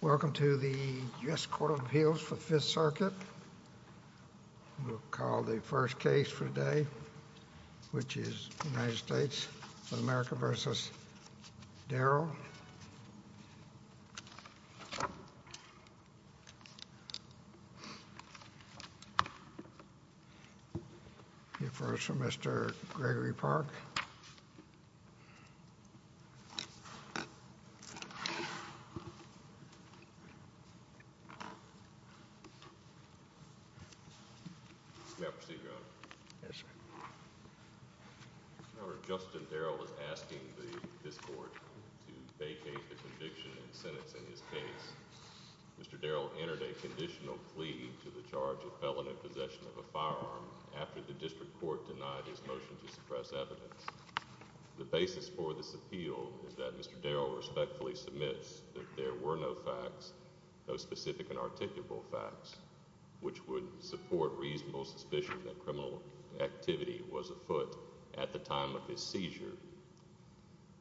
Welcome to the U.S. Court of Appeals for the Fifth Circuit. We'll call the first case for today, which is the United States of America v. Darrell. The first is Mr. Gregory Park. May I proceed, Your Honor? Yes, sir. The basis for this appeal is that Mr. Darrell respectfully submits that there were no facts, no specific and articulable facts, which would support reasonable suspicion that criminal activity was afoot at the time of his seizure.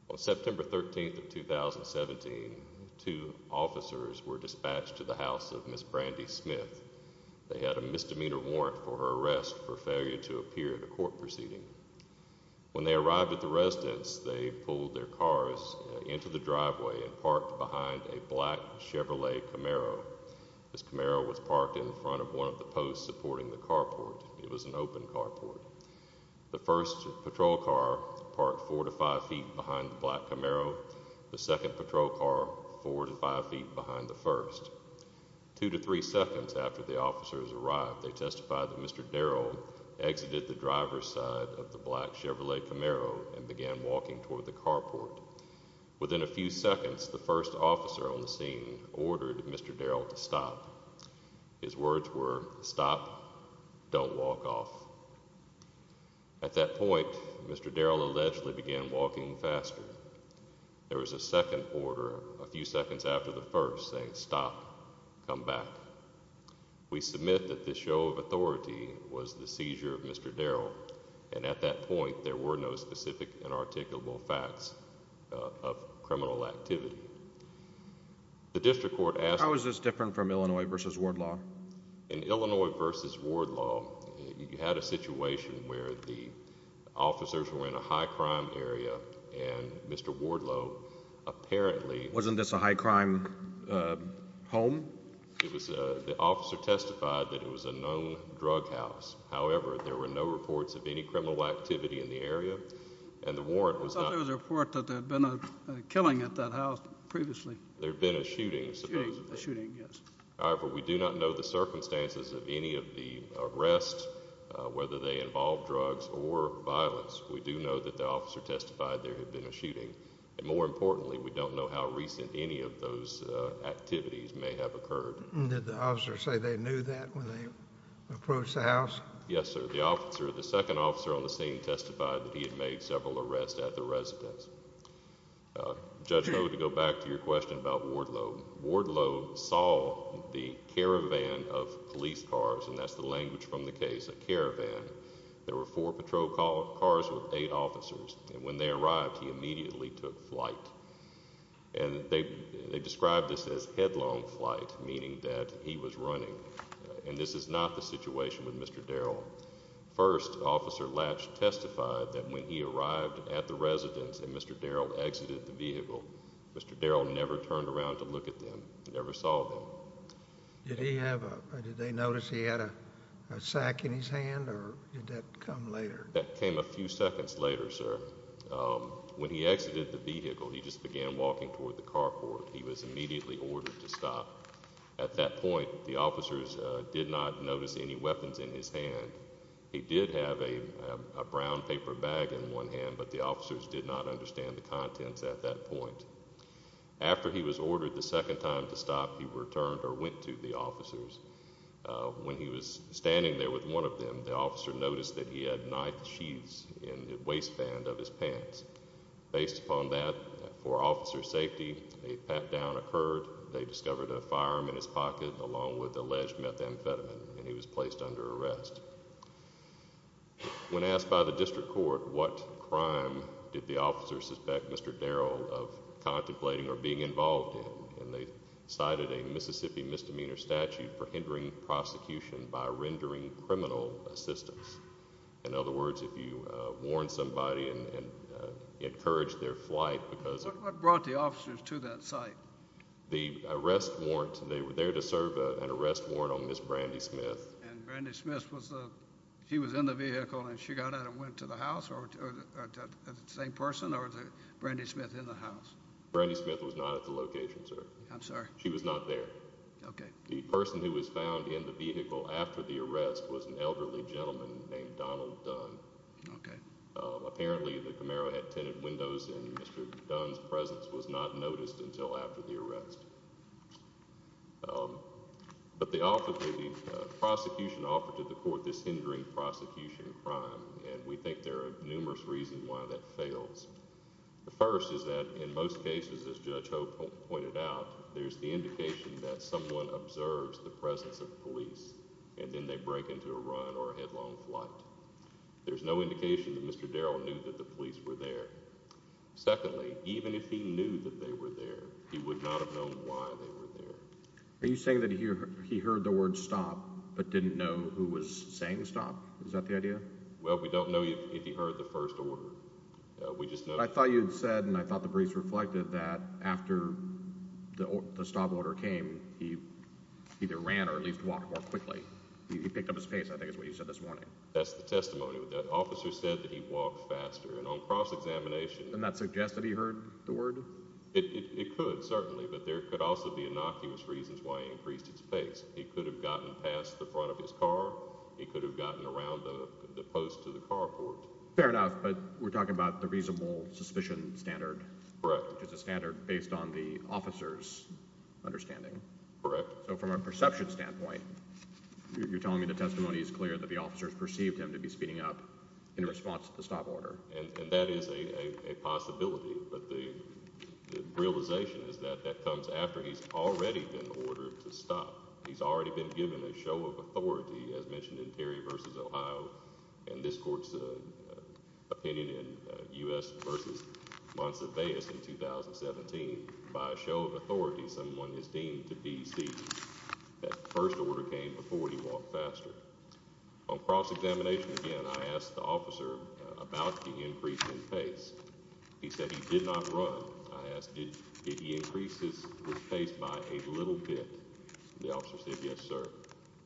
On September 13, 2017, two officers were dispatched to the house of Ms. Brandy Smith. They had a misdemeanor warrant for her arrest for failure to appear at a court proceeding. When they arrived at the residence, they pulled their cars into the driveway and parked behind a black Chevrolet Camaro. This Camaro was parked in front of one of the posts supporting the carport. It was an open carport. The first patrol car parked four to five feet behind the black Camaro, the second patrol car four to five feet behind the first. Two to three seconds after the officers arrived, they testified that Mr. Darrell exited the driver's side of the black Chevrolet Camaro and began walking toward the carport. Within a few seconds, the first officer on the scene ordered Mr. Darrell to stop. His words were, stop, don't walk off. At that point, Mr. Darrell allegedly began walking faster. There was a second order a few seconds after the first saying, stop, come back. We submit that this show of authority was the seizure of Mr. Darrell, and at that point, there were no specific and articulable facts of criminal activity. The district court asked— How is this different from Illinois v. Wardlaw? In Illinois v. Wardlaw, you had a situation where the officers were in a high crime area, and Mr. Wardlaw apparently— Wasn't this a high crime home? The officer testified that it was a known drug house. However, there were no reports of any criminal activity in the area, and the warrant was not— I thought there was a report that there had been a killing at that house previously. There had been a shooting, supposedly. A shooting, yes. However, we do not know the circumstances of any of the arrests, whether they involved drugs or violence. We do know that the officer testified there had been a shooting. More importantly, we don't know how recent any of those activities may have occurred. Did the officer say they knew that when they approached the house? Yes, sir. The second officer on the scene testified that he had made several arrests at the residence. Judge Noda, to go back to your question about Wardlaw, Wardlaw saw the caravan of police cars, and that's the language from the case, a caravan. There were four patrol cars with eight officers, and when they arrived, he immediately took flight. And they described this as headlong flight, meaning that he was running. And this is not the situation with Mr. Darrell. First, Officer Latch testified that when he arrived at the residence and Mr. Darrell exited the vehicle, Mr. Darrell never turned around to look at them, never saw them. Did he have a—did they notice he had a sack in his hand, or did that come later? That came a few seconds later, sir. When he exited the vehicle, he just began walking toward the carport. He was immediately ordered to stop. At that point, the officers did not notice any weapons in his hand. He did have a brown paper bag in one hand, but the officers did not understand the contents at that point. After he was ordered the second time to stop, he returned or went to the officers. When he was standing there with one of them, the officer noticed that he had knife sheaths in the waistband of his pants. Based upon that, for officer's safety, a pat-down occurred. They discovered a firearm in his pocket along with alleged methamphetamine, and he was placed under arrest. When asked by the district court what crime did the officers suspect Mr. Darrell of contemplating or being involved in, they cited a Mississippi misdemeanor statute for hindering prosecution by rendering criminal assistance. In other words, if you warn somebody and encourage their flight because of— What brought the officers to that site? The arrest warrant. They were there to serve an arrest warrant on Ms. Brandy Smith. And Brandy Smith, she was in the vehicle, and she got out and went to the house? Or was it the same person, or was Brandy Smith in the house? Brandy Smith was not at the location, sir. I'm sorry? She was not there. Okay. The person who was found in the vehicle after the arrest was an elderly gentleman named Donald Dunn. Okay. Apparently the Camaro had tinted windows, and Mr. Dunn's presence was not noticed until after the arrest. But the prosecution offered to the court this hindering prosecution crime, and we think there are numerous reasons why that fails. The first is that in most cases, as Judge Hope pointed out, there's the indication that someone observes the presence of police, and then they break into a run or a headlong flight. There's no indication that Mr. Darrell knew that the police were there. Secondly, even if he knew that they were there, he would not have known why they were there. Are you saying that he heard the word stop but didn't know who was saying stop? Is that the idea? Well, we don't know if he heard the first order. I thought you had said, and I thought the briefs reflected, that after the stop order came, he either ran or at least walked more quickly. He picked up his pace, I think, is what you said this morning. That's the testimony. The officer said that he walked faster, and on cross-examination— Doesn't that suggest that he heard the word? It could, certainly, but there could also be innocuous reasons why he increased his pace. He could have gotten past the front of his car. He could have gotten around the post to the carport. Fair enough, but we're talking about the reasonable suspicion standard, which is a standard based on the officer's understanding. Correct. So from a perception standpoint, you're telling me the testimony is clear that the officers perceived him to be speeding up in response to the stop order. And that is a possibility, but the realization is that that comes after he's already been ordered to stop. He's already been given a show of authority, as mentioned in Perry v. Ohio and this court's opinion in U.S. v. Montsevious in 2017. By a show of authority, someone is deemed to be speeding. That first order came before he walked faster. On cross-examination again, I asked the officer about the increase in pace. He said he did not run. I asked, did he increase his pace by a little bit? The officer said, yes, sir.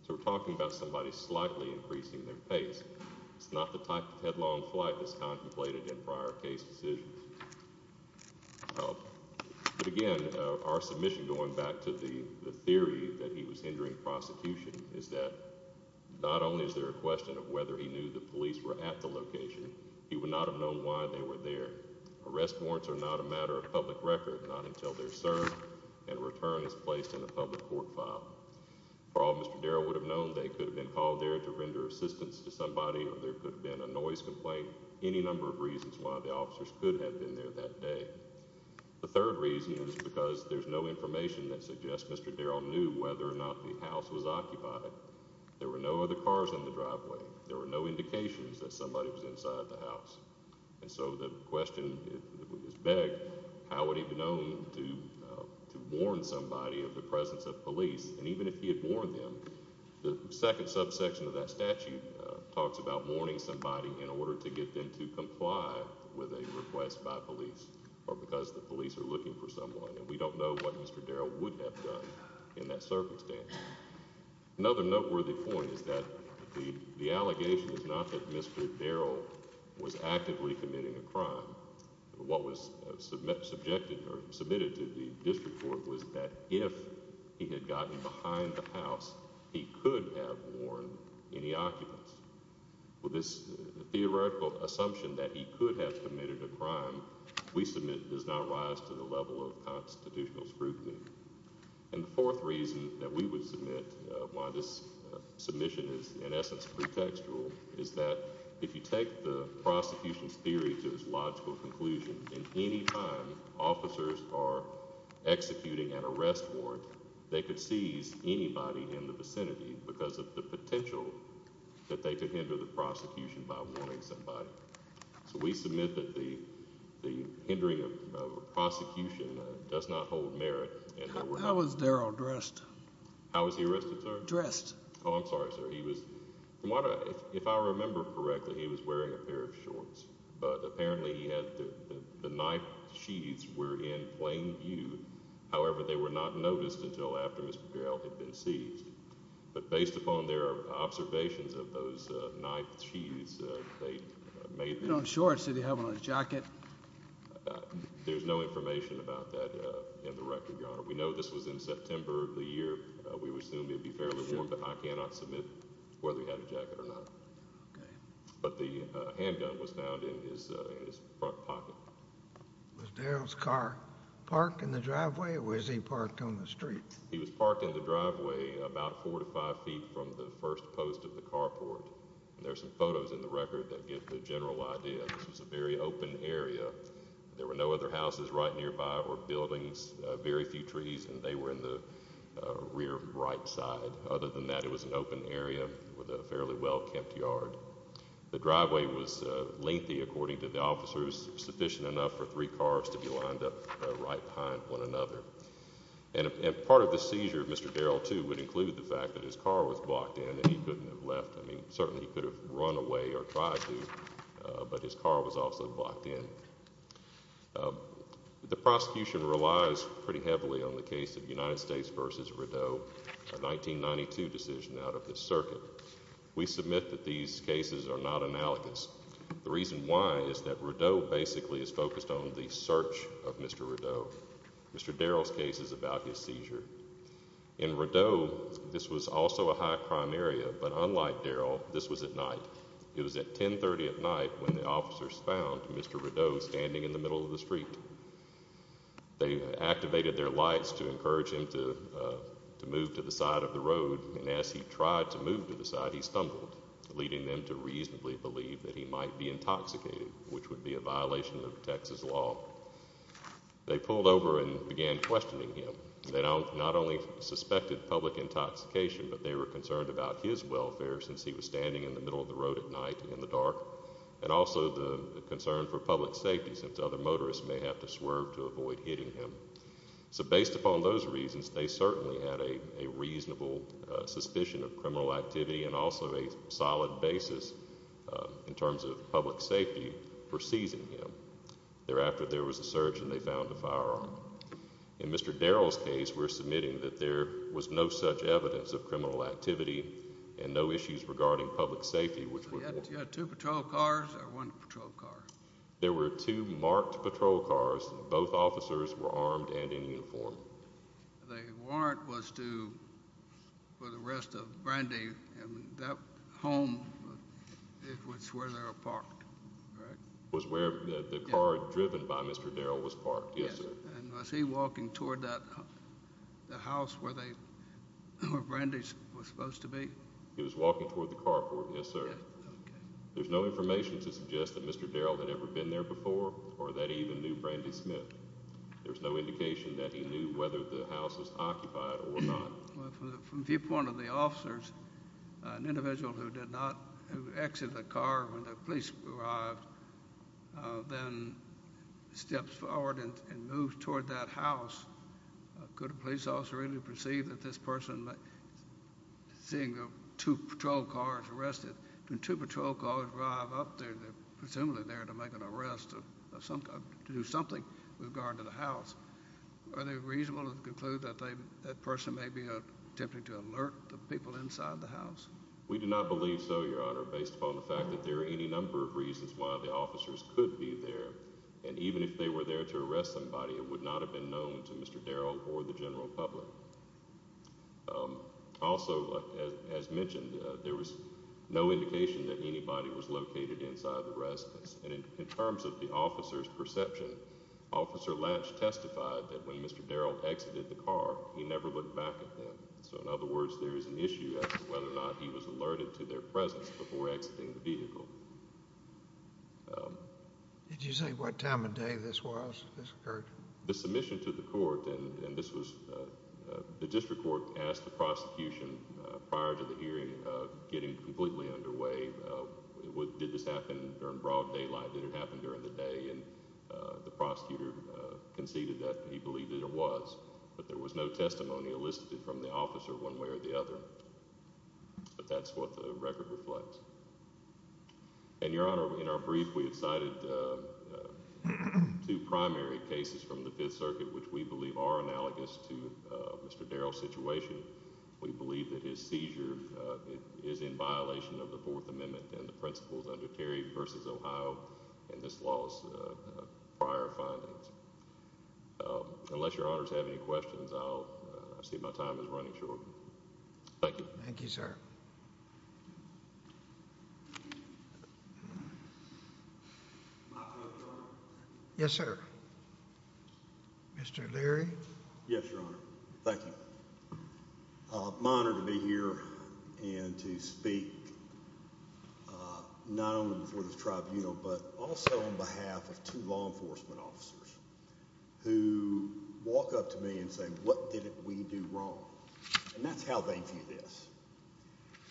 So we're talking about somebody slightly increasing their pace. It's not the type of headlong flight that's contemplated in prior case decisions. But again, our submission going back to the theory that he was hindering prosecution is that not only is there a question of whether he knew the police were at the location, he would not have known why they were there. Arrest warrants are not a matter of public record, not until they're served and a return is placed in a public court file. For all Mr. Darrell would have known, they could have been called there to render assistance to somebody or there could have been a noise complaint, any number of reasons why the officers could have been there that day. The third reason is because there's no information that suggests Mr. Darrell knew whether or not the house was occupied. There were no other cars on the driveway. There were no indications that somebody was inside the house. And so the question is begged, how would he have known to warn somebody of the presence of police? And even if he had warned them, the second subsection of that statute talks about warning somebody in order to get them to comply with a request by police or because the police are looking for someone. And we don't know what Mr. Darrell would have done in that circumstance. Another noteworthy point is that the allegation is not that Mr. Darrell was actively committing a crime. What was submitted to the district court was that if he had gotten behind the house, he could have warned any occupants. With this theoretical assumption that he could have committed a crime, we submit it does not rise to the level of constitutional scrutiny. And the fourth reason that we would submit why this submission is in essence pretextual is that if you take the prosecution's theory to its logical conclusion, in any time officers are executing an arrest warrant, they could seize anybody in the vicinity because of the potential that they could hinder the prosecution by warning somebody. So we submit that the hindering of a prosecution does not hold merit. How was Darrell dressed? How was he arrested, sir? Dressed. Oh, I'm sorry, sir. If I remember correctly, he was wearing a pair of shorts. But apparently the knife sheaths were in plain view. However, they were not noticed until after Mr. Darrell had been seized. But based upon their observations of those knife sheaths, they made them. You don't have shorts. Did he have on a jacket? There's no information about that in the record, Your Honor. We know this was in September of the year. We would assume it would be fairly warm, but I cannot submit whether he had a jacket or not. But the handgun was found in his front pocket. Was Darrell's car parked in the driveway or was he parked on the street? He was parked in the driveway about four to five feet from the first post of the carport. There are some photos in the record that give the general idea. This was a very open area. There were no other houses right nearby or buildings, very few trees, and they were in the rear right side. Other than that, it was an open area with a fairly well-kept yard. The driveway was lengthy, according to the officers, sufficient enough for three cars to be lined up right behind one another. And part of the seizure of Mr. Darrell, too, would include the fact that his car was blocked in and he couldn't have left. I mean, certainly he could have run away or tried to, but his car was also blocked in. The prosecution relies pretty heavily on the case of United States v. Rideau, a 1992 decision out of the circuit. We submit that these cases are not analogous. The reason why is that Rideau basically is focused on the search of Mr. Rideau. Mr. Darrell's case is about his seizure. In Rideau, this was also a high-crime area, but unlike Darrell, this was at night. It was at 1030 at night when the officers found Mr. Rideau standing in the middle of the street. They activated their lights to encourage him to move to the side of the road, and as he tried to move to the side, he stumbled, leading them to reasonably believe that he might be intoxicated, which would be a violation of Texas law. They pulled over and began questioning him. They not only suspected public intoxication, but they were concerned about his welfare since he was standing in the middle of the road at night in the dark and also the concern for public safety since other motorists may have to swerve to avoid hitting him. So based upon those reasons, they certainly had a reasonable suspicion of criminal activity and also a solid basis in terms of public safety for seizing him. Thereafter, there was a search, and they found a firearm. In Mr. Darrell's case, we're submitting that there was no such evidence of criminal activity and no issues regarding public safety, which would warrant— So you had two patrol cars or one patrol car? There were two marked patrol cars. Both officers were armed and in uniform. The warrant was for the arrest of Brandy, and that home is where they were parked, correct? It was where the car driven by Mr. Darrell was parked, yes, sir. And was he walking toward the house where Brandy was supposed to be? He was walking toward the carport, yes, sir. There's no information to suggest that Mr. Darrell had ever been there before or that he even knew Brandy Smith. There's no indication that he knew whether the house was occupied or not. From the viewpoint of the officers, an individual who did not exit the car when the police arrived then steps forward and moves toward that house, could a police officer really perceive that this person, seeing two patrol cars arrested, when two patrol cars drive up there, they're presumably there to make an arrest, to do something with regard to the house. Are they reasonable to conclude that that person may be attempting to alert the people inside the house? We do not believe so, Your Honor, based upon the fact that there are any number of reasons why the officers could be there. And even if they were there to arrest somebody, it would not have been known to Mr. Darrell or the general public. Also, as mentioned, there was no indication that anybody was located inside the residence. And in terms of the officers' perception, Officer Latch testified that when Mr. Darrell exited the car, he never looked back at them. So in other words, there is an issue as to whether or not he was alerted to their presence before exiting the vehicle. Did you say what time of day this was, this occurred? The submission to the court, and this was, the district court asked the prosecution prior to the hearing of getting completely underway, did this happen during broad daylight, did it happen during the day, and the prosecutor conceded that he believed it was, but there was no testimony elicited from the officer one way or the other. But that's what the record reflects. And, Your Honor, in our brief, we have cited two primary cases from the Fifth Circuit, which we believe are analogous to Mr. Darrell's situation. We believe that his seizure is in violation of the Fourth Amendment and the principles under Terry v. Ohio and this law's prior findings. Unless Your Honors have any questions, I see my time is running short. Thank you. Thank you, sir. Yes, sir. Mr. Leary? Yes, Your Honor. Thank you. My honor to be here and to speak not only before this tribunal, but also on behalf of two law enforcement officers who walk up to me and say, what did we do wrong? And that's how they view this.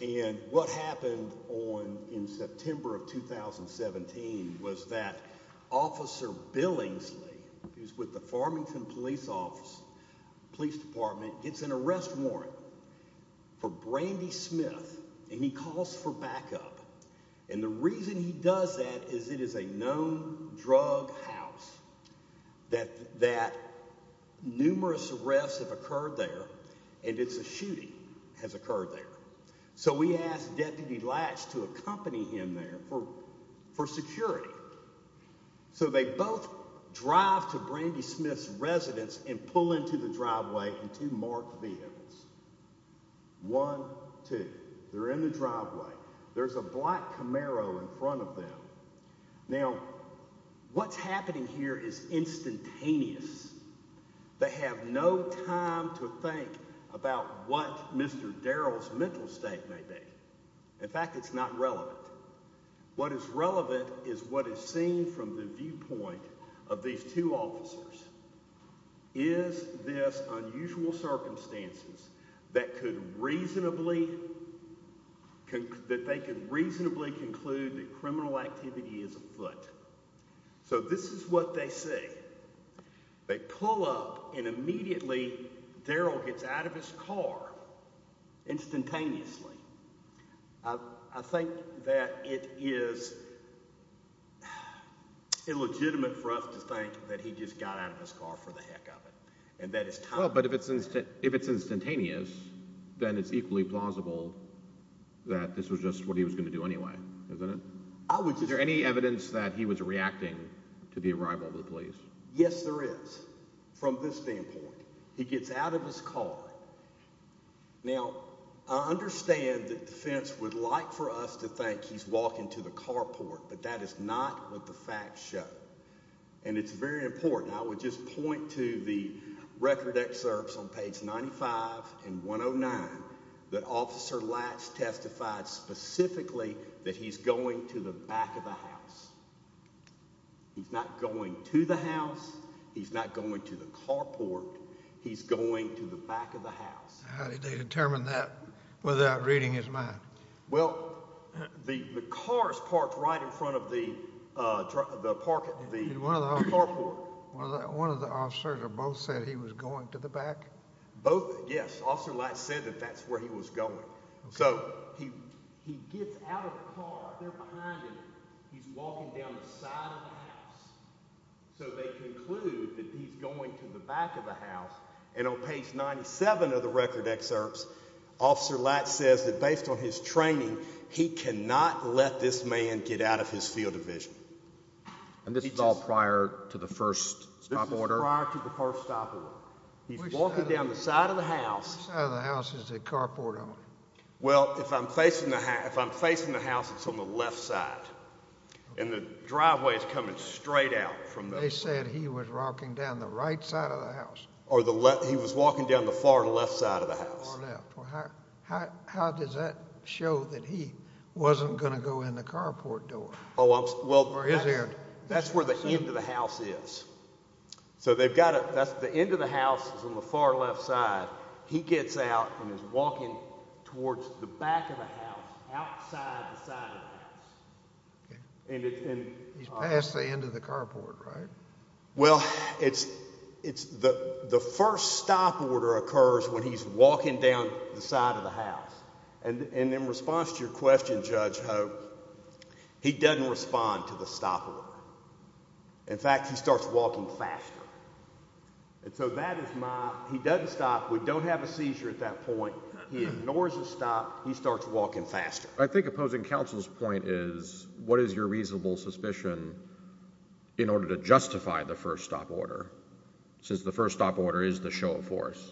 And what happened in September of 2017 was that Officer Billingsley, who's with the Farmington Police Department, gets an arrest warrant for Brandy Smith, and he calls for backup. And the reason he does that is it is a known drug house, that numerous arrests have occurred there, and it's a shooting has occurred there. So we asked Deputy Latch to accompany him there for security. So they both drive to Brandy Smith's residence and pull into the driveway in two marked vehicles. One, two. They're in the driveway. There's a black Camaro in front of them. Now, what's happening here is instantaneous. They have no time to think about what Mr. Darrell's mental state may be. In fact, it's not relevant. What is relevant is what is seen from the viewpoint of these two officers. Is this unusual circumstances that they could reasonably conclude that criminal activity is afoot? So this is what they see. They pull up, and immediately Darrell gets out of his car instantaneously. I think that it is illegitimate for us to think that he just got out of his car for the heck of it. Well, but if it's instantaneous, then it's equally plausible that this was just what he was going to do anyway, isn't it? Is there any evidence that he was reacting to the arrival of the police? Yes, there is, from this standpoint. He gets out of his car. Now, I understand that defense would like for us to think he's walking to the carport, but that is not what the facts show. And it's very important. I would just point to the record excerpts on page 95 and 109 that Officer Latch testified specifically that he's going to the back of the house. He's not going to the house. He's not going to the carport. He's going to the back of the house. How did they determine that without reading his mind? Well, the car is parked right in front of the carport. One of the officers or both said he was going to the back? Both, yes. Officer Latch said that that's where he was going. So he gets out of the car. They're behind him. He's walking down the side of the house. So they conclude that he's going to the back of the house. And on page 97 of the record excerpts, Officer Latch says that based on his training, he cannot let this man get out of his field of vision. And this is all prior to the first stop order? This is prior to the first stop order. He's walking down the side of the house. Which side of the house is the carport on? Well, if I'm facing the house, it's on the left side. And the driveway is coming straight out. They said he was walking down the right side of the house. Or he was walking down the far left side of the house. How does that show that he wasn't going to go in the carport door? Well, that's where the end of the house is. So the end of the house is on the far left side. He gets out and is walking towards the back of the house, outside the side of the house. He's past the end of the carport, right? Well, the first stop order occurs when he's walking down the side of the house. And in response to your question, Judge Hope, he doesn't respond to the stop order. In fact, he starts walking faster. And so that is my—he doesn't stop. We don't have a seizure at that point. He ignores the stop. He starts walking faster. I think opposing counsel's point is what is your reasonable suspicion in order to justify the first stop order? Since the first stop order is the show of force.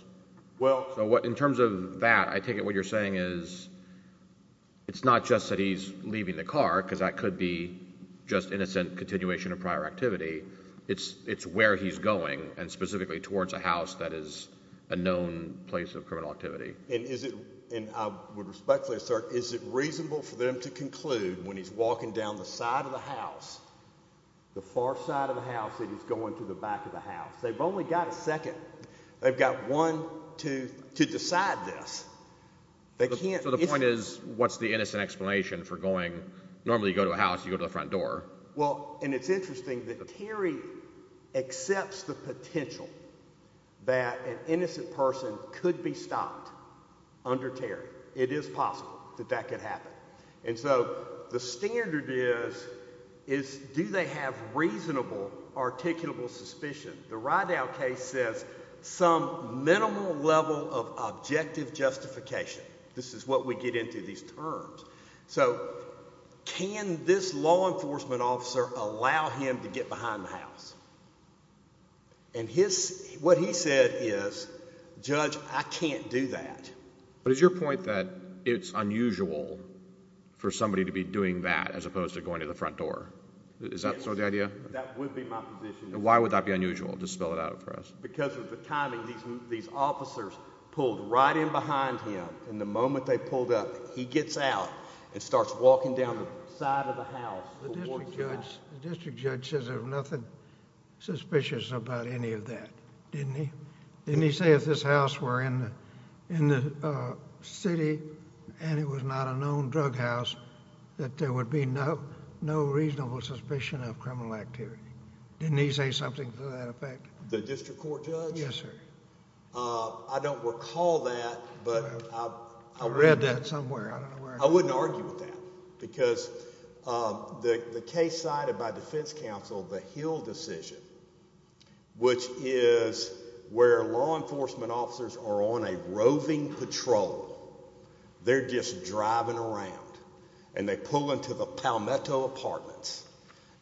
Well— So in terms of that, I take it what you're saying is it's not just that he's leaving the car, because that could be just innocent continuation of prior activity. It's where he's going and specifically towards a house that is a known place of criminal activity. And I would respectfully assert, is it reasonable for them to conclude when he's walking down the side of the house, the far side of the house, that he's going to the back of the house? They've only got a second. They've got one to decide this. So the point is, what's the innocent explanation for going—normally you go to a house, you go to the front door. Well, and it's interesting that Terry accepts the potential that an innocent person could be stopped under Terry. It is possible that that could happen. And so the standard is, do they have reasonable articulable suspicion? The Rydow case says some minimal level of objective justification. This is what we get into these terms. So can this law enforcement officer allow him to get behind the house? And what he said is, Judge, I can't do that. But is your point that it's unusual for somebody to be doing that as opposed to going to the front door? Yes. Is that sort of the idea? That would be my position. And why would that be unusual? Just spell it out for us. Because of the timing, these officers pulled right in behind him, and the moment they pulled up, he gets out and starts walking down the side of the house. The district judge says there's nothing suspicious about any of that, didn't he? Didn't he say if this house were in the city and it was not a known drug house, that there would be no reasonable suspicion of criminal activity? Didn't he say something to that effect? The district court judge? Yes, sir. I don't recall that, but I read that somewhere. I wouldn't argue with that because the case cited by defense counsel, the Hill decision, which is where law enforcement officers are on a roving patrol. They're just driving around, and they pull into the Palmetto apartments,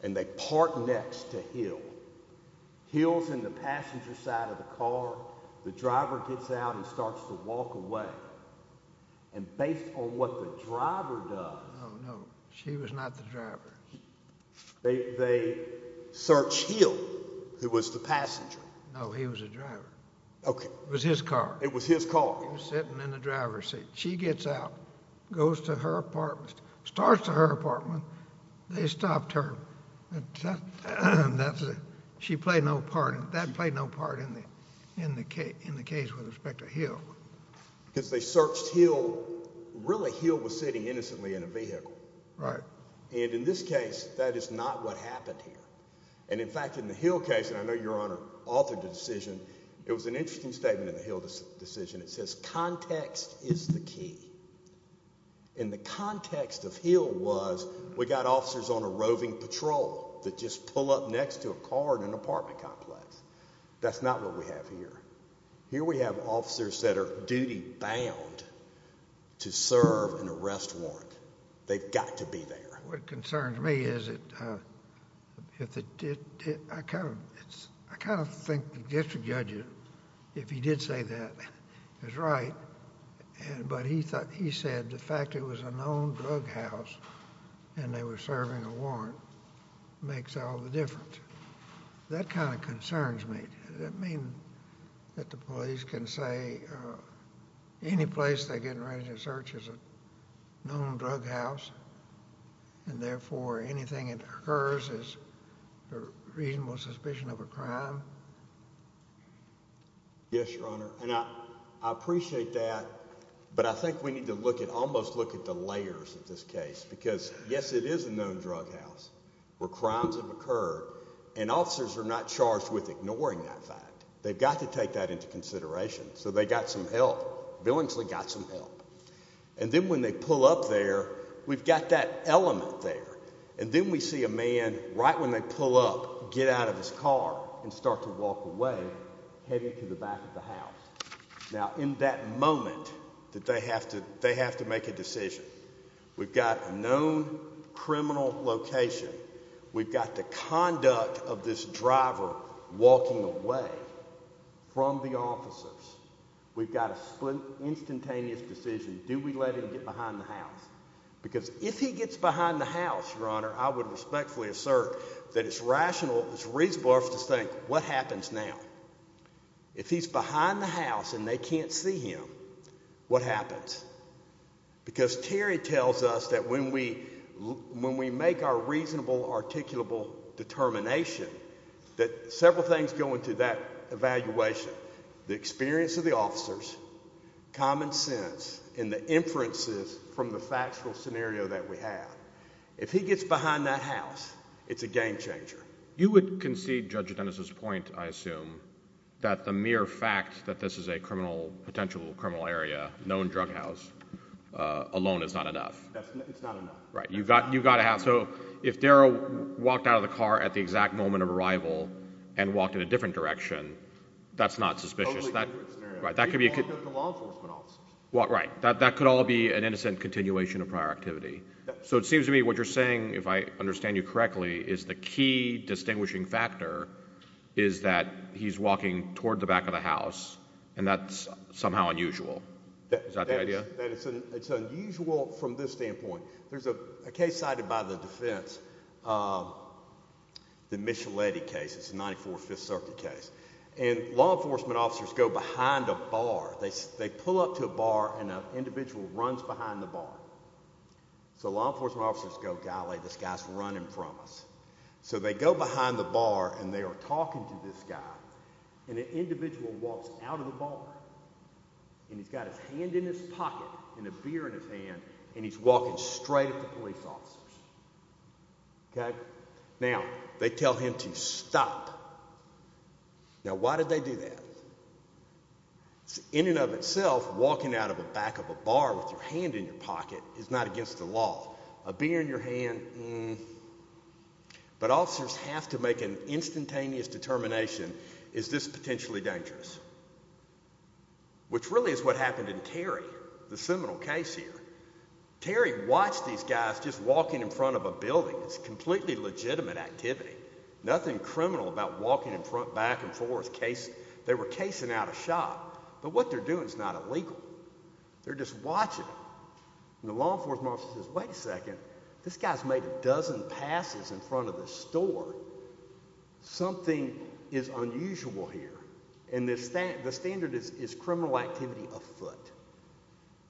and they park next to Hill. Hill's in the passenger side of the car. The driver gets out and starts to walk away. And based on what the driver does— No, no, she was not the driver. They search Hill, who was the passenger. No, he was the driver. Okay. It was his car. It was his car. He was sitting in the driver's seat. She gets out, goes to her apartment, starts to her apartment. They stopped her. She played no part. That played no part in the case with respect to Hill. Because they searched Hill. Really, Hill was sitting innocently in a vehicle. Right. And in this case, that is not what happened here. And, in fact, in the Hill case—and I know Your Honor authored the decision—it was an interesting statement in the Hill decision. It says context is the key. And the context of Hill was we got officers on a roving patrol that just pull up next to a car in an apartment complex. That's not what we have here. Here we have officers that are duty-bound to serve an arrest warrant. They've got to be there. What concerns me is I kind of think the district judge, if he did say that, is right. But he said the fact it was a known drug house and they were serving a warrant makes all the difference. That kind of concerns me. Does that mean that the police can say any place they're getting ready to search is a known drug house, and therefore anything that occurs is a reasonable suspicion of a crime? Yes, Your Honor. And I appreciate that, but I think we need to look at—almost look at the layers of this case. Because, yes, it is a known drug house where crimes have occurred, and officers are not charged with ignoring that fact. They've got to take that into consideration. So they got some help. Billingsley got some help. And then when they pull up there, we've got that element there. And then we see a man, right when they pull up, get out of his car and start to walk away, heading to the back of the house. Now, in that moment, they have to make a decision. We've got a known criminal location. We've got the conduct of this driver walking away from the officers. We've got a split, instantaneous decision. Do we let him get behind the house? Because if he gets behind the house, Your Honor, I would respectfully assert that it's rational, it's reasonable for us to think, what happens now? If he's behind the house and they can't see him, what happens? Because Terry tells us that when we make our reasonable, articulable determination, that several things go into that evaluation. The experience of the officers, common sense, and the inferences from the factual scenario that we have. If he gets behind that house, it's a game changer. You would concede Judge Dennis' point, I assume, that the mere fact that this is a potential criminal area, known drug house, alone is not enough. It's not enough. Right. So if Darrell walked out of the car at the exact moment of arrival and walked in a different direction, that's not suspicious. Totally different scenario. Right. That could be a good— The law enforcement officers. Right. That could all be an innocent continuation of prior activity. So it seems to me what you're saying, if I understand you correctly, is the key distinguishing factor is that he's walking toward the back of the house, and that's somehow unusual. Is that the idea? It's unusual from this standpoint. There's a case cited by the defense, the Micheletti case. It's a 94 Fifth Circuit case. And law enforcement officers go behind a bar. They pull up to a bar, and an individual runs behind the bar. So law enforcement officers go, golly, this guy's running from us. So they go behind the bar, and they are talking to this guy. And the individual walks out of the bar, and he's got his hand in his pocket and a beer in his hand, and he's walking straight at the police officers. Okay? Now, they tell him to stop. Now, why did they do that? In and of itself, walking out of the back of a bar with your hand in your pocket is not against the law. A beer in your hand? But officers have to make an instantaneous determination, is this potentially dangerous? Which really is what happened in Terry, the seminal case here. Terry watched these guys just walking in front of a building. It's completely legitimate activity. Nothing criminal about walking in front, back, and forth. They were casing out a shot. But what they're doing is not illegal. They're just watching. And the law enforcement officer says, wait a second, this guy's made a dozen passes in front of this store. Something is unusual here. And the standard is criminal activity afoot.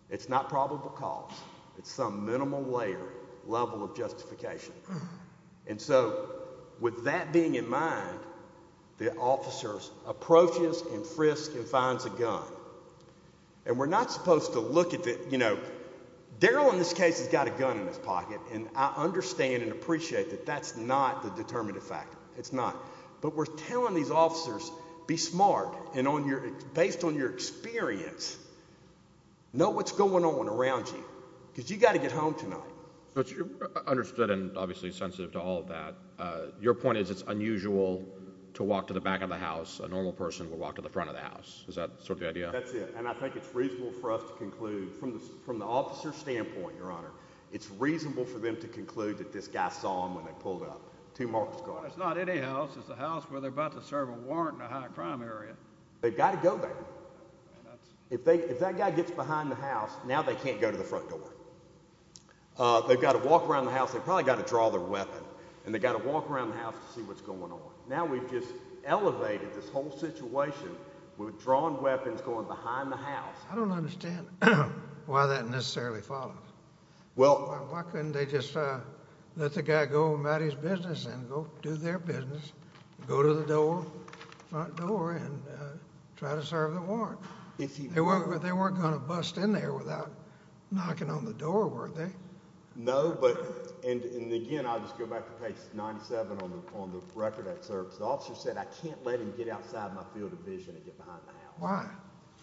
It's not probable cause. It's some minimal layer, level of justification. And so, with that being in mind, the officer approaches and frisks and finds a gun. And we're not supposed to look at the, you know, Darrell in this case has got a gun in his pocket. And I understand and appreciate that that's not the determinative factor. It's not. But we're telling these officers, be smart. And based on your experience, know what's going on around you. Because you've got to get home tonight. But you're understood and obviously sensitive to all of that. Your point is it's unusual to walk to the back of the house. A normal person would walk to the front of the house. Is that sort of the idea? That's it. And I think it's reasonable for us to conclude, from the officer's standpoint, Your Honor, it's reasonable for them to conclude that this guy saw them when they pulled up. Two marks. It's not any house. It's a house where they're about to serve a warrant in a high-crime area. They've got to go there. If that guy gets behind the house, now they can't go to the front door. They've got to walk around the house. They've probably got to draw their weapon. And they've got to walk around the house to see what's going on. Now we've just elevated this whole situation with drawn weapons going behind the house. I don't understand why that necessarily follows. Why couldn't they just let the guy go about his business and go do their business, go to the door, front door, and try to serve the warrant? They weren't going to bust in there without knocking on the door, were they? No. And, again, I'll just go back to page 97 on the record that serves. The officer said, I can't let him get outside my field of vision and get behind the house. Why?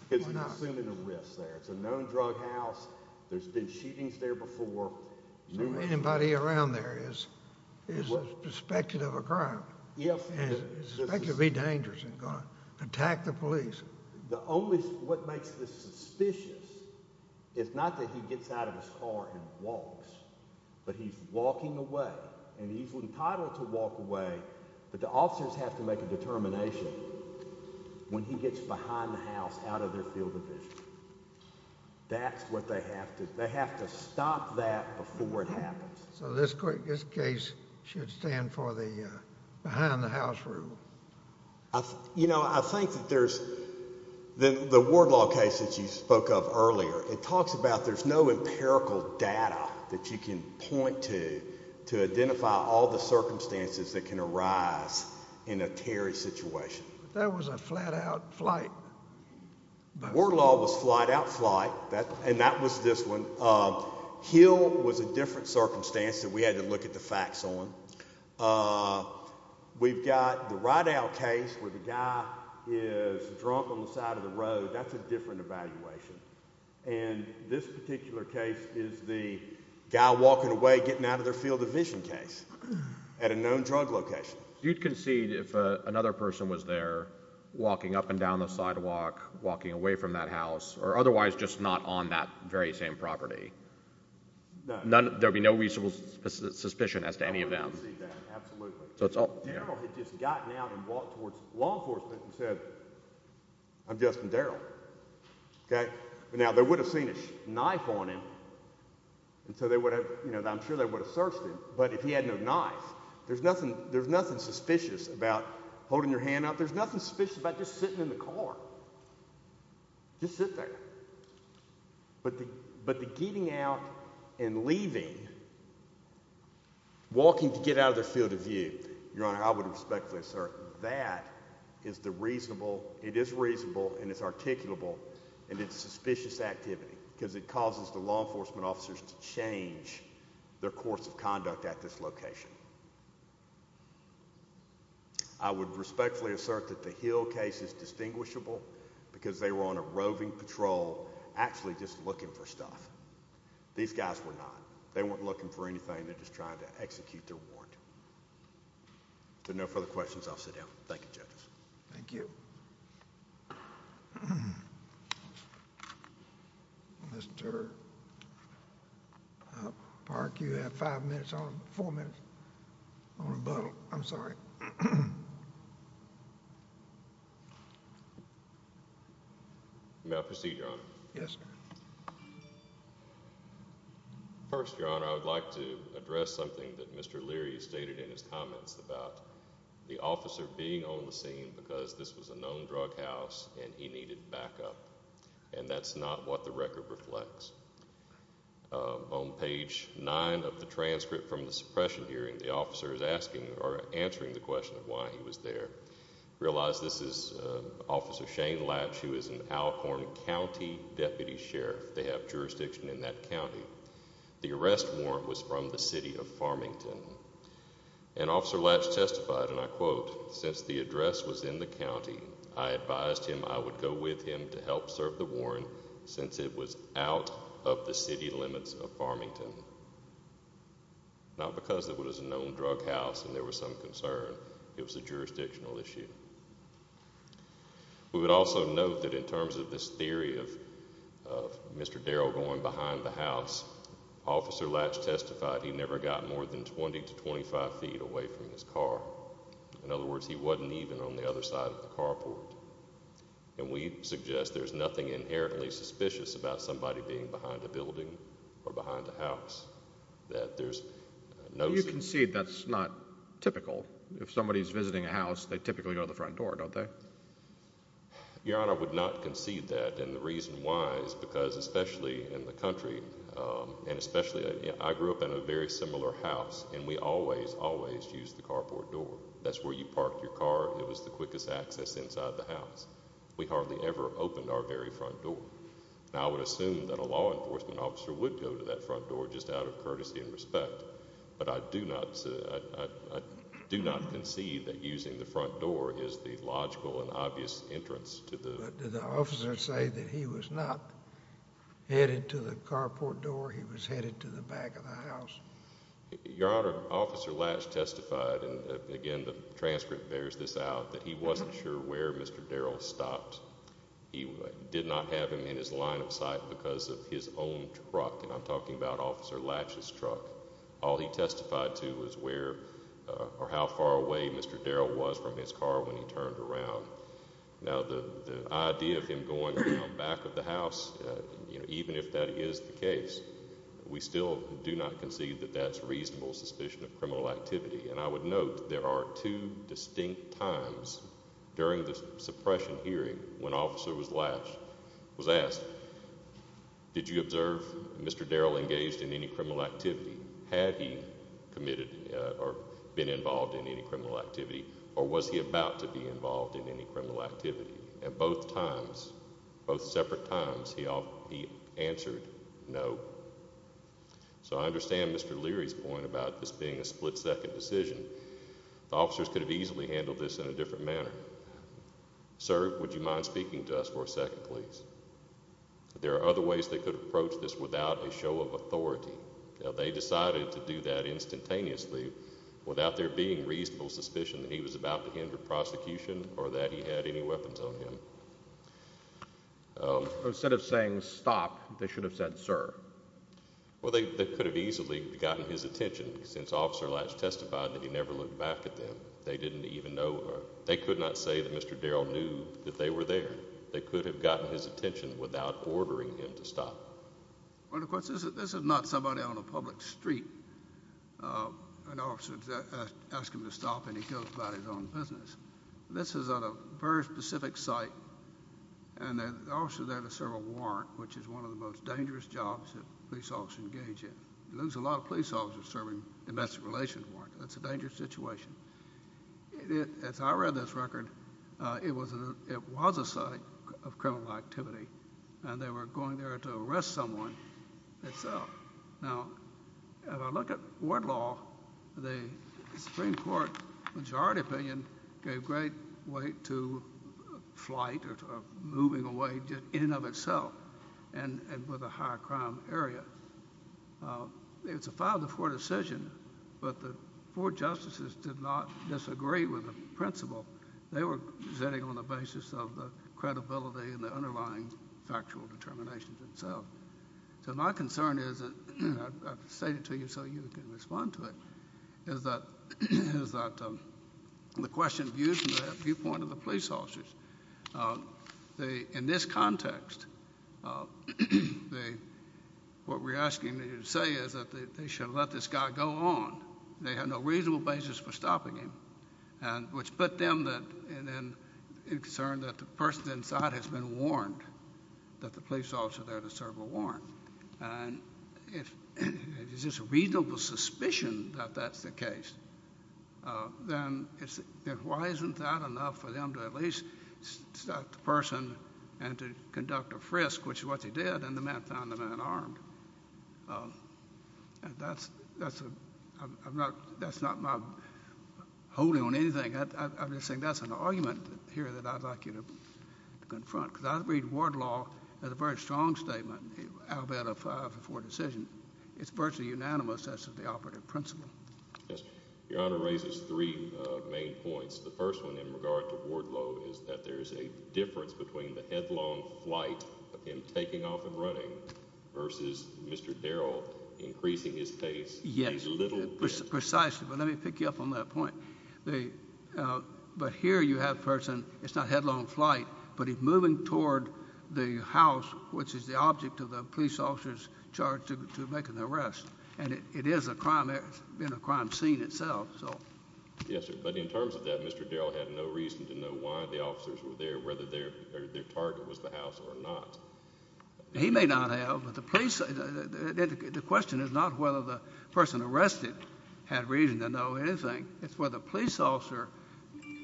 Because he's assuming a risk there. It's a known drug house. There's been shootings there before. Anybody around there is suspected of a crime and is suspected to be dangerous and going to attack the police. The only—what makes this suspicious is not that he gets out of his car and walks, but he's walking away, and he's entitled to walk away, but the officers have to make a determination when he gets behind the house out of their field of vision. That's what they have to—they have to stop that before it happens. So this case should stand for the behind-the-house rule. You know, I think that there's—the Ward Law case that you spoke of earlier, it talks about there's no empirical data that you can point to to identify all the circumstances that can arise in a Terry situation. That was a flat-out flight. Ward Law was flat-out flight, and that was this one. Hill was a different circumstance that we had to look at the facts on. We've got the Rydell case where the guy is drunk on the side of the road. That's a different evaluation. And this particular case is the guy walking away, getting out of their field of vision case at a known drug location. You'd concede if another person was there walking up and down the sidewalk, walking away from that house, or otherwise just not on that very same property? No. There would be no reasonable suspicion as to any of them? Absolutely. So it's all— Darrell had just gotten out and walked towards law enforcement and said, I'm Justin Darrell. Now, they would have seen a knife on him, and so they would have—I'm sure they would have searched him. But if he had no knife, there's nothing suspicious about holding your hand out. There's nothing suspicious about just sitting in the car. Just sit there. But the getting out and leaving, walking to get out of their field of view, Your Honor, I would respectfully assert that is the reasonable—it is reasonable, and it's articulable, and it's suspicious activity because it causes the law enforcement officers to change their course of conduct at this location. I would respectfully assert that the Hill case is distinguishable because they were on a roving patrol actually just looking for stuff. These guys were not. They weren't looking for anything. They're just trying to execute their warrant. If there are no further questions, I'll sit down. Thank you, judges. Thank you. Mr. Park, you have five minutes on—four minutes. On rebuttal. I'm sorry. May I proceed, Your Honor? Yes, sir. First, Your Honor, I would like to address something that Mr. Leary stated in his comments about the officer being on the scene because this was a known drug house, and he needed backup, and that's not what the record reflects. On page 9 of the transcript from the suppression hearing, the officer is asking or answering the question of why he was there. Realize this is Officer Shane Latch, who is an Alcorn County Deputy Sheriff. They have jurisdiction in that county. The arrest warrant was from the city of Farmington. And Officer Latch testified, and I quote, Since the address was in the county, I advised him I would go with him to help serve the warrant since it was out of the city limits of Farmington. Not because it was a known drug house and there was some concern. It was a jurisdictional issue. We would also note that in terms of this theory of Mr. Darrell going behind the house, Officer Latch testified he never got more than 20 to 25 feet away from his car. In other words, he wasn't even on the other side of the carport. And we suggest there's nothing inherently suspicious about somebody being behind a building or behind a house. You concede that's not typical. If somebody's visiting a house, they typically go to the front door, don't they? Your Honor, I would not concede that. And the reason why is because, especially in the country, and especially I grew up in a very similar house, and we always, always used the carport door. That's where you parked your car. It was the quickest access inside the house. We hardly ever opened our very front door. And I would assume that a law enforcement officer would go to that front door just out of courtesy and respect. But I do not concede that using the front door is the logical and obvious entrance to the house. But did the officer say that he was not headed to the carport door? He was headed to the back of the house? Your Honor, Officer Latch testified, and again the transcript bears this out, that he wasn't sure where Mr. Darrell stopped. He did not have him in his line of sight because of his own truck, and I'm talking about Officer Latch's truck. All he testified to was where or how far away Mr. Darrell was from his car when he turned around. Now the idea of him going to the back of the house, even if that is the case, we still do not concede that that's reasonable suspicion of criminal activity. And I would note there are two distinct times during the suppression hearing when Officer Latch was asked, did you observe Mr. Darrell engaged in any criminal activity? Had he committed or been involved in any criminal activity, or was he about to be involved in any criminal activity? At both times, both separate times, he answered no. So I understand Mr. Leary's point about this being a split-second decision. The officers could have easily handled this in a different manner. Sir, would you mind speaking to us for a second, please? There are other ways they could approach this without a show of authority. They decided to do that instantaneously without there being reasonable suspicion that he was about to enter prosecution or that he had any weapons on him. Instead of saying stop, they should have said sir. Well, they could have easily gotten his attention since Officer Latch testified that he never looked back at them. They didn't even know. They could not say that Mr. Darrell knew that they were there. They could have gotten his attention without ordering him to stop. Well, of course, this is not somebody on a public street. An officer asks him to stop, and he goes about his own business. This is at a very specific site, and the officers are there to serve a warrant, which is one of the most dangerous jobs that police officers engage in. There's a lot of police officers serving domestic relations warrants. That's a dangerous situation. As I read this record, it was a site of criminal activity, and they were going there to arrest someone. Now, if I look at court law, the Supreme Court majority opinion gave great weight to flight or moving away in and of itself and with a high crime area. It's a 5-4 decision, but the four justices did not disagree with the principle. They were sitting on the basis of the credibility and the underlying factual determinations themselves. So my concern is, and I've stated it to you so you can respond to it, is that the question views from the viewpoint of the police officers. In this context, what we're asking you to say is that they should let this guy go on. They have no reasonable basis for stopping him, which put them in concern that the person inside has been warned that the police officer there to serve a warrant. If it's just a reasonable suspicion that that's the case, then why isn't that enough for them to at least stop the person and to conduct a frisk, which is what they did, and the man found the man armed? That's not my holding on anything. I'm just saying that's an argument here that I'd like you to confront because I read ward law as a very strong statement out of a 5-4 decision. It's virtually unanimous as to the operative principle. Your Honor raises three main points. The first one in regard to ward law is that there is a difference between the headlong flight of him taking off and running versus Mr. Darrell increasing his pace. Yes, precisely, but let me pick you up on that point. But here you have a person, it's not headlong flight, but he's moving toward the house, which is the object of the police officer's charge to make an arrest, and it is a crime scene itself. Yes, sir, but in terms of that, Mr. Darrell had no reason to know why the officers were there, whether their target was the house or not. He may not have, but the question is not whether the person arrested had reason to know anything. It's whether the police officer,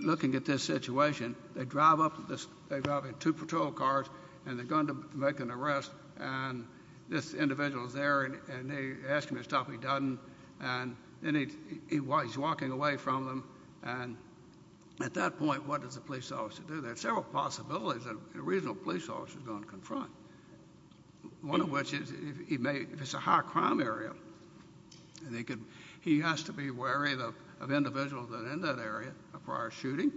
looking at this situation, they drive up in two patrol cars and they're going to make an arrest, and this individual is there and they ask him to stop, he doesn't, and then he's walking away from them, and at that point what does the police officer do? There are several possibilities that a regional police officer is going to confront, one of which is if it's a high crime area and he has to be wary of individuals that are in that area prior to shooting.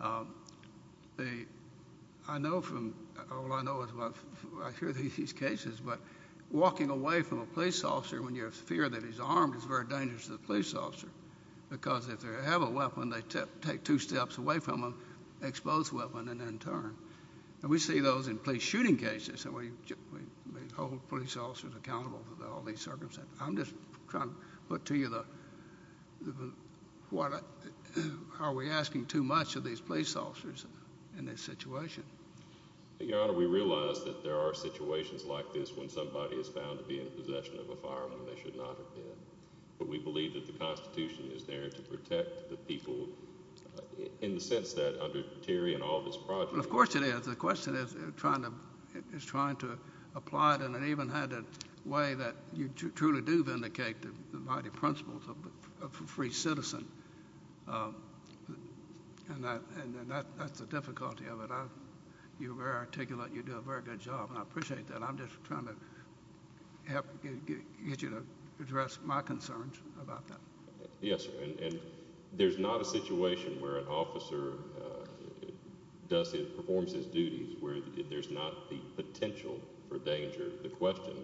All I know is I hear these cases, but walking away from a police officer when you have fear that he's armed is very dangerous to the police officer because if they have a weapon, they take two steps away from him, expose the weapon, and then turn. We see those in police shooting cases, and we hold police officers accountable for all these circumstances. I'm just trying to put to you, are we asking too much of these police officers in this situation? Your Honor, we realize that there are situations like this when somebody is found to be in possession of a firearm and they should not have been, but we believe that the Constitution is there to protect the people in the sense that under Terry and all this project. Of course it is. The question is trying to apply it in an even-handed way that you truly do vindicate the mighty principles of a free citizen, and that's the difficulty of it. You're very articulate. You do a very good job, and I appreciate that. I'm just trying to get you to address my concerns about that. Yes, sir, and there's not a situation where an officer performs his duties where there's not the potential for danger. The question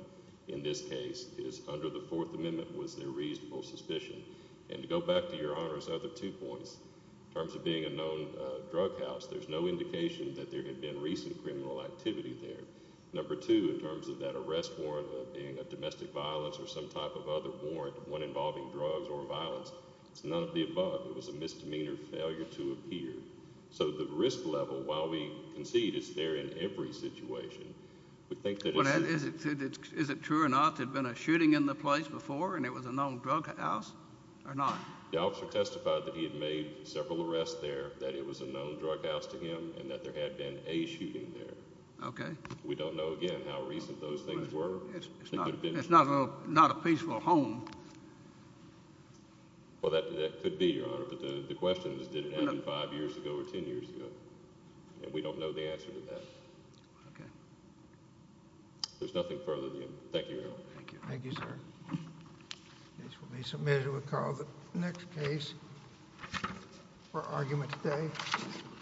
in this case is under the Fourth Amendment, was there reasonable suspicion? And to go back to Your Honor's other two points, in terms of being a known drug house, there's no indication that there had been recent criminal activity there. Number two, in terms of that arrest warrant being a domestic violence or some type of other warrant, one involving drugs or violence, it's none of the above. It was a misdemeanor failure to appear. So the risk level, while we concede it's there in every situation, we think that it's— Is it true or not there had been a shooting in the place before and it was a known drug house or not? The officer testified that he had made several arrests there, that it was a known drug house to him, and that there had been a shooting there. Okay. We don't know, again, how recent those things were. It's not a peaceful home. Well, that could be, Your Honor, but the question is did it happen five years ago or ten years ago, and we don't know the answer to that. Okay. There's nothing further than that. Thank you, Your Honor. Thank you, sir. This will be submitted with Carl. The next case for argument today.